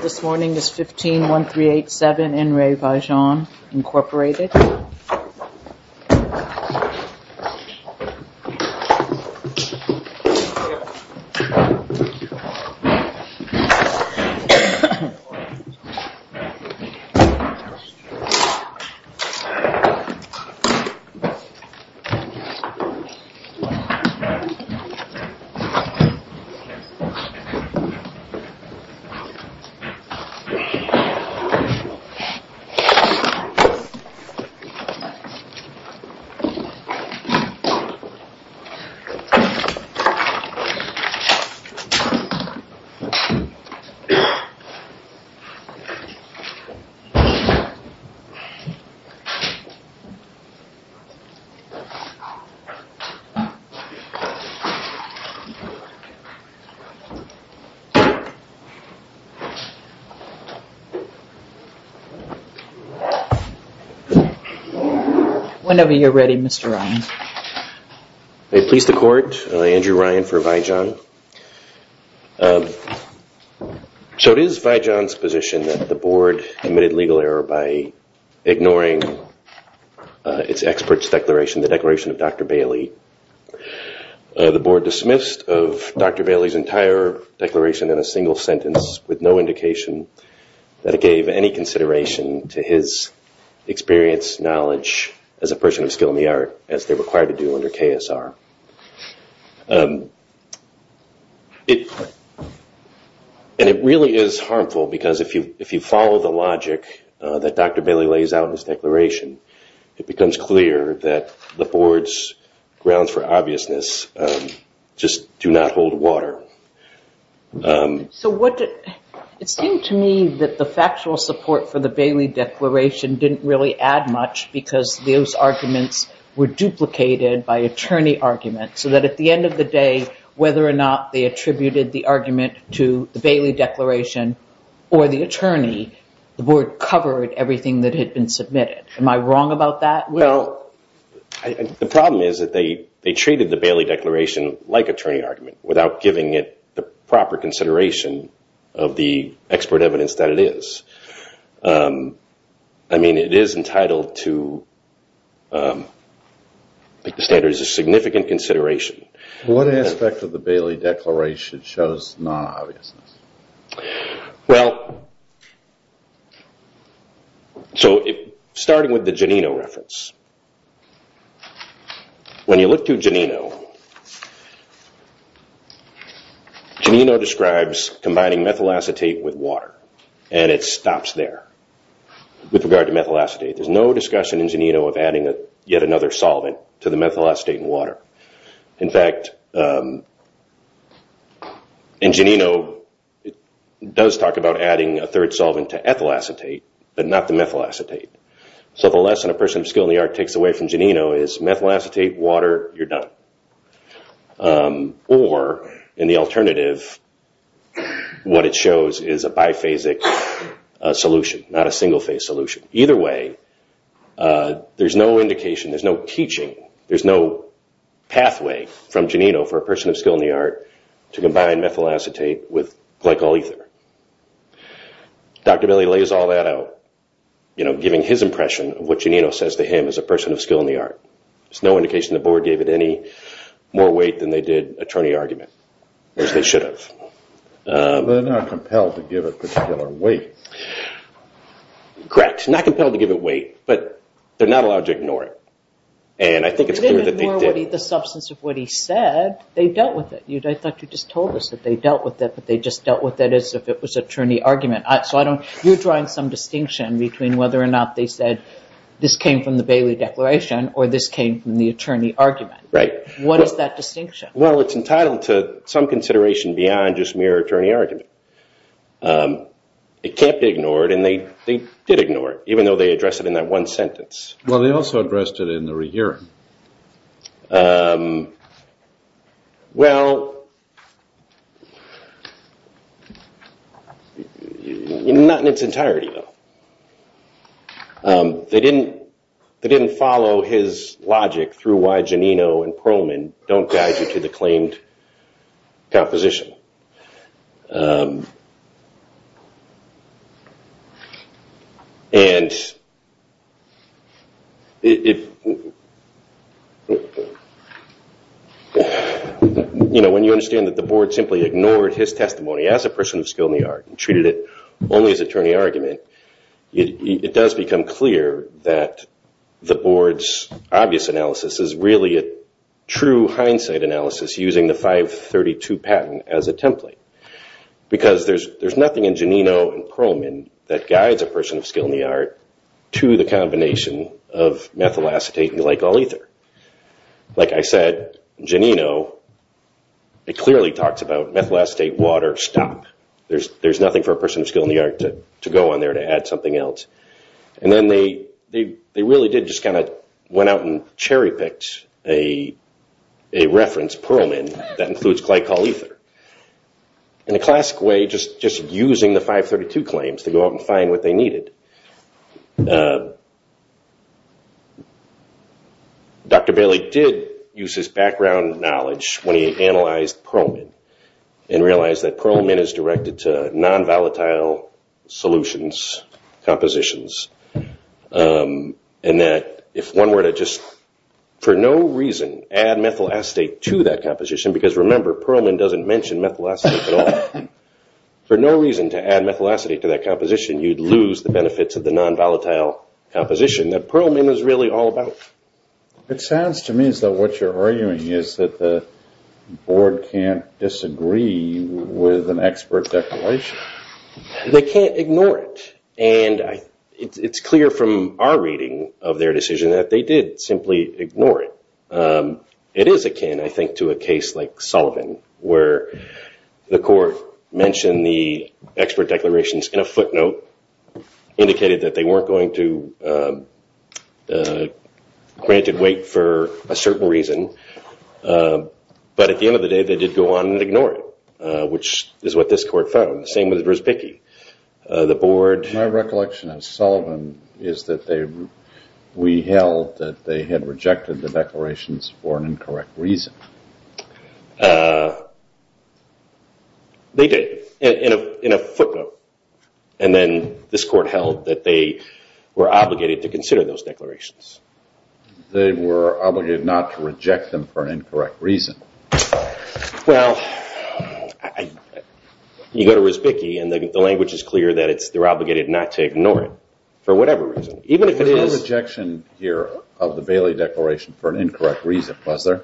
This morning is 15-1387 in Re Vi-Jon, Inc. This morning is 15-1387 in Re Vi-Jon, Inc. So it is Vi-Jon's position that the board committed legal error by ignoring its expert's declaration, the declaration of Dr. Bailey. The board dismissed of Dr. Bailey's entire sentence with no indication that it gave any consideration to his experience, knowledge as a person of skill in the art as they're required to do under KSR. And it really is harmful because if you follow the logic that Dr. Bailey lays out in his declaration, it becomes clear that the board's grounds for obviousness just do not hold water. So what did, it seemed to me that the factual support for the Bailey declaration didn't really add much because those arguments were duplicated by attorney argument so that at the end of the day, whether or not they attributed the argument to the Bailey declaration or the attorney, the board covered everything that had been submitted. Am I wrong about that? Well, the problem is that they treated the Bailey declaration like attorney argument without giving it the proper consideration of the expert evidence that it is. I mean it is entitled to standards of significant consideration. What aspect of the Bailey declaration shows non-obviousness? Well, so starting with the Janino reference. When you look to Janino, you see that the Janino describes combining methyl acetate with water and it stops there. With regard to methyl acetate, there's no discussion in Janino of adding yet another solvent to the methyl acetate and water. In fact, in Janino, it does talk about adding a third solvent to ethyl acetate but not the methyl acetate. So the lesson a person of skill in the art takes away from Janino is methyl acetate, water, you're done. Or in the alternative, what it shows is a biphasic solution, not a single phase solution. Either way, there's no indication, there's no teaching, there's no pathway from Janino for a person of skill in the art to combine methyl acetate with glycol ether. Dr. Bailey lays all that out, giving his impression of what Janino says to him as a person of skill in the art. There's no indication the board gave it any more weight than they did attorney argument, as they should have. They're not compelled to give it particular weight. Correct. Not compelled to give it weight but they're not allowed to ignore it. And I think it's clear that they did. They didn't ignore the substance of what he said, they dealt with it. I thought you just told us that they dealt with it but they just dealt with it as if it was attorney argument. You're drawing some distinction between whether or not they said this came from the Bailey declaration or this came from the attorney argument. What is that distinction? It's entitled to some consideration beyond just mere attorney argument. It can't be ignored and they did ignore it, even though they addressed it in that one sentence. They also addressed it in the rehearing. Not in its entirety though. They didn't follow his logic through why Janino and Pearlman don't guide you to the claimed composition. When you understand that the board simply ignored his testimony as a person of skill in the art and treated it only as attorney argument, it does become clear that the board's obvious analysis is really a true hindsight analysis using the 532 patent as a template. Because there's nothing in Janino and Pearlman that guides a person of skill in the art to the combination of methyl acetate and glycol ether. Like I said, Janino clearly talks about methyl acetate, water, stop. There's nothing for a person of skill in the art to go on there to add something else. They really did just kind of went out and cherry picked a reference, Pearlman, that includes glycol ether. In a classic way, just using the 532 claims to go out and find what they needed. Dr. Bailey did use his background knowledge when he analyzed Pearlman and realized that Pearlman is directed to non-volatile solutions, compositions, and that if one were to just for no reason add methyl acetate to that composition, because remember Pearlman doesn't mention methyl acetate at all. For no reason to add methyl acetate to that composition, you'd lose the benefits of the non-volatile composition that Pearlman is really all about. It sounds to me as though what you're arguing is that the board can't disagree with an expert declaration. They can't ignore it. It's clear from our reading of their decision that they did simply ignore it. It is akin, I think, to a case like Sullivan where the court mentioned the expert declarations in a footnote, indicated that they weren't going to grant it weight for a certain reason, but at the end of the day, they did go on and ignore it, which is what this court found. The same with Verzpicky. My recollection of Sullivan is that we held that they had rejected the declarations for an incorrect reason. They did, in a footnote. Then this court held that they were obligated to consider those declarations. They were obligated not to reject them for an incorrect reason. Well, you go to Verzpicky and the language is clear that they're obligated not to ignore it for whatever reason. Even if it is... There was no rejection here of the Bailey Declaration for an incorrect reason, was there?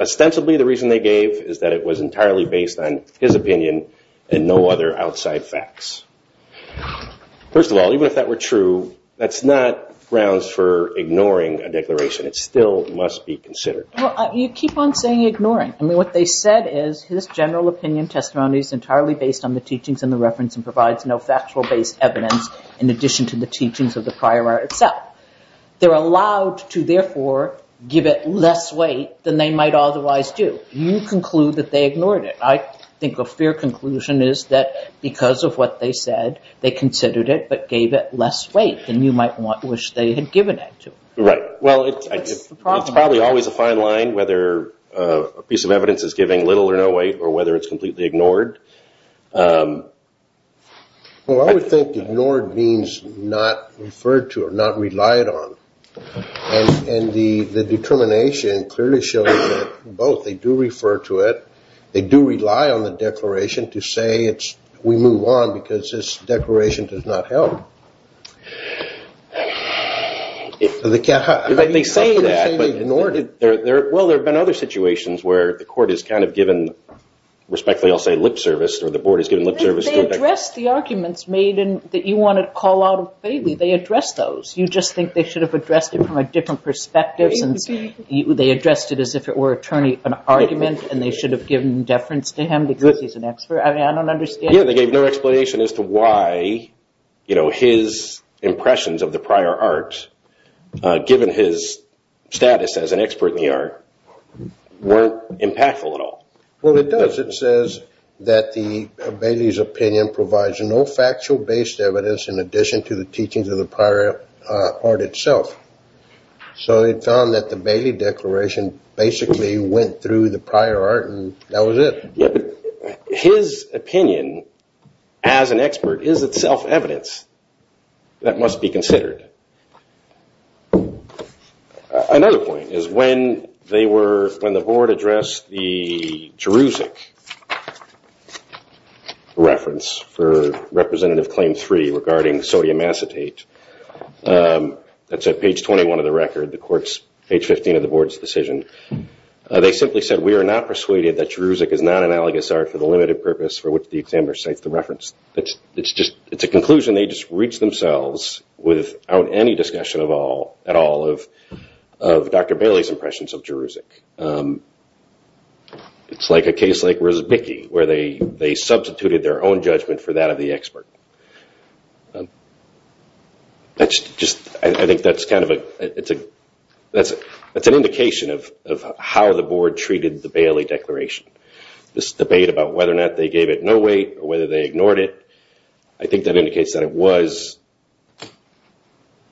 Ostensibly the reason they gave is that it was entirely based on his opinion and no other outside facts. First of all, even if that were true, that's not grounds for ignoring a declaration. It still must be considered. You keep on saying ignoring. I mean, what they said is his general opinion testimony is entirely based on the teachings in the reference and provides no factual-based evidence in addition to the teachings of the prior art itself. They're allowed to, therefore, give it less weight than they might otherwise do. You conclude that they ignored it. I think a fair conclusion is that because of what they said, they considered it but gave it less weight than you might wish they had given it to. Right. Well, it's probably always a fine line whether a piece of evidence is giving little or no weight or whether it's completely ignored. Well, I would think ignored means not referred to or not relied on. The determination clearly shows that both, they do refer to it, they do rely on the declaration to say we move on because this declaration does not help. Well, there have been other situations where the court is kind of given, respectfully I'll say lip service, or the board has given lip service. They addressed the arguments made that you want to call out of Bailey. They addressed those. You just think they should have addressed it from a different perspective since they addressed it as if it were an argument and they should have given deference to him because he's an expert. I don't understand. Yeah, they gave no explanation as to why his impressions of the prior art, given his status as an expert in the art, weren't impactful at all. Well, it does. It says that Bailey's opinion provides no factual based evidence in addition to the teachings of the prior art itself. So it found that the Bailey declaration basically went through the prior art and that was it. His opinion as an expert is itself evidence that must be considered. Another point is when they were, when the board addressed the Jerusalem reference for sodium acetate, that's at page 21 of the record, the court's, page 15 of the board's decision, they simply said, we are not persuaded that Jerusalem is not an analogous art for the limited purpose for which the examiner cites the reference. It's just, it's a conclusion they just reached themselves without any discussion of all, at all, of Dr. Bailey's impressions of Jerusalem. It's like a case like Rizvicki where they just, I think that's kind of a, it's an indication of how the board treated the Bailey declaration. This debate about whether or not they gave it no weight or whether they ignored it, I think that indicates that it was,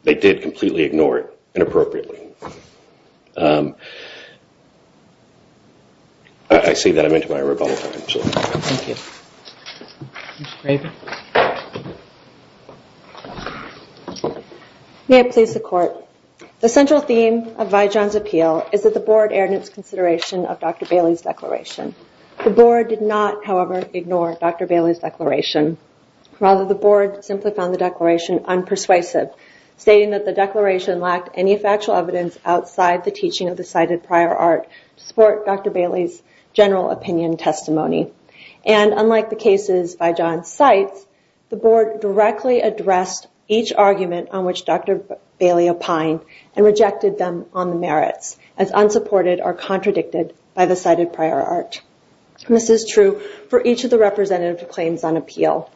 they did completely ignore it inappropriately. I see that I'm into my rebuttal time, so thank you. May it please the court. The central theme of Vijon's appeal is that the board erred in its consideration of Dr. Bailey's declaration. The board did not, however, ignore Dr. Bailey's declaration. Rather, the board simply found the declaration unpersuasive, stating that the declaration lacked any factual evidence outside the teaching of the cited prior art to support Dr. Bailey's general opinion testimony. Unlike the cases Vijon cites, the board directly addressed each argument on which Dr. Bailey opined and rejected them on the merits as unsupported or contradicted by the cited prior art. This is true for each of the representative claims on appeal.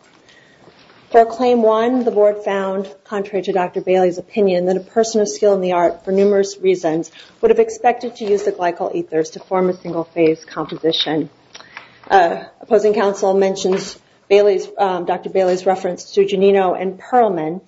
For claim one, the board found, contrary to Dr. Bailey's opinion, that a person of skill in the art for numerous reasons would have expected to use the glycol ethers to form a single phase composition. Opposing counsel mentions Dr. Bailey's reference to Giannino and Perlman,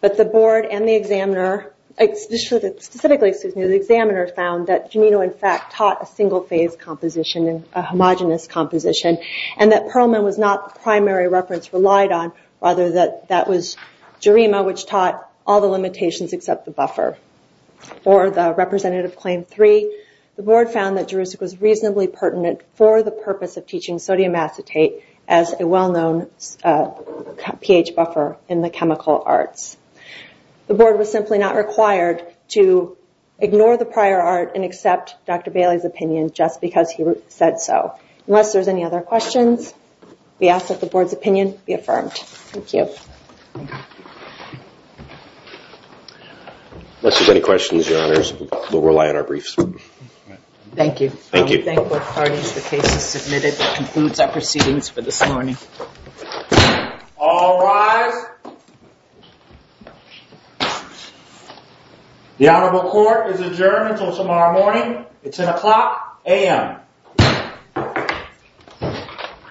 but the board and the examiner, specifically the examiner, found that Giannino, in fact, taught a single phase composition, a homogenous composition, and that Perlman was not the primary reference relied on, rather that that was Gerima, which taught all the limitations except the buffer. For the representative claim three, the board found that Jurassic was reasonably pertinent for the purpose of teaching sodium acetate as a well-known pH buffer in the chemical arts. The board was simply not required to ignore the prior art and accept Dr. Bailey's opinion just because he said so. Unless there's any other questions, we ask that the board's opinion be affirmed. Thank you. Unless there's any questions, your honors, we'll rely on our briefs. Thank you. Thank you. Thank both parties. The case is submitted. That concludes our proceedings for this morning. All rise. The honorable court is adjourned until tomorrow morning at 10 o'clock a.m.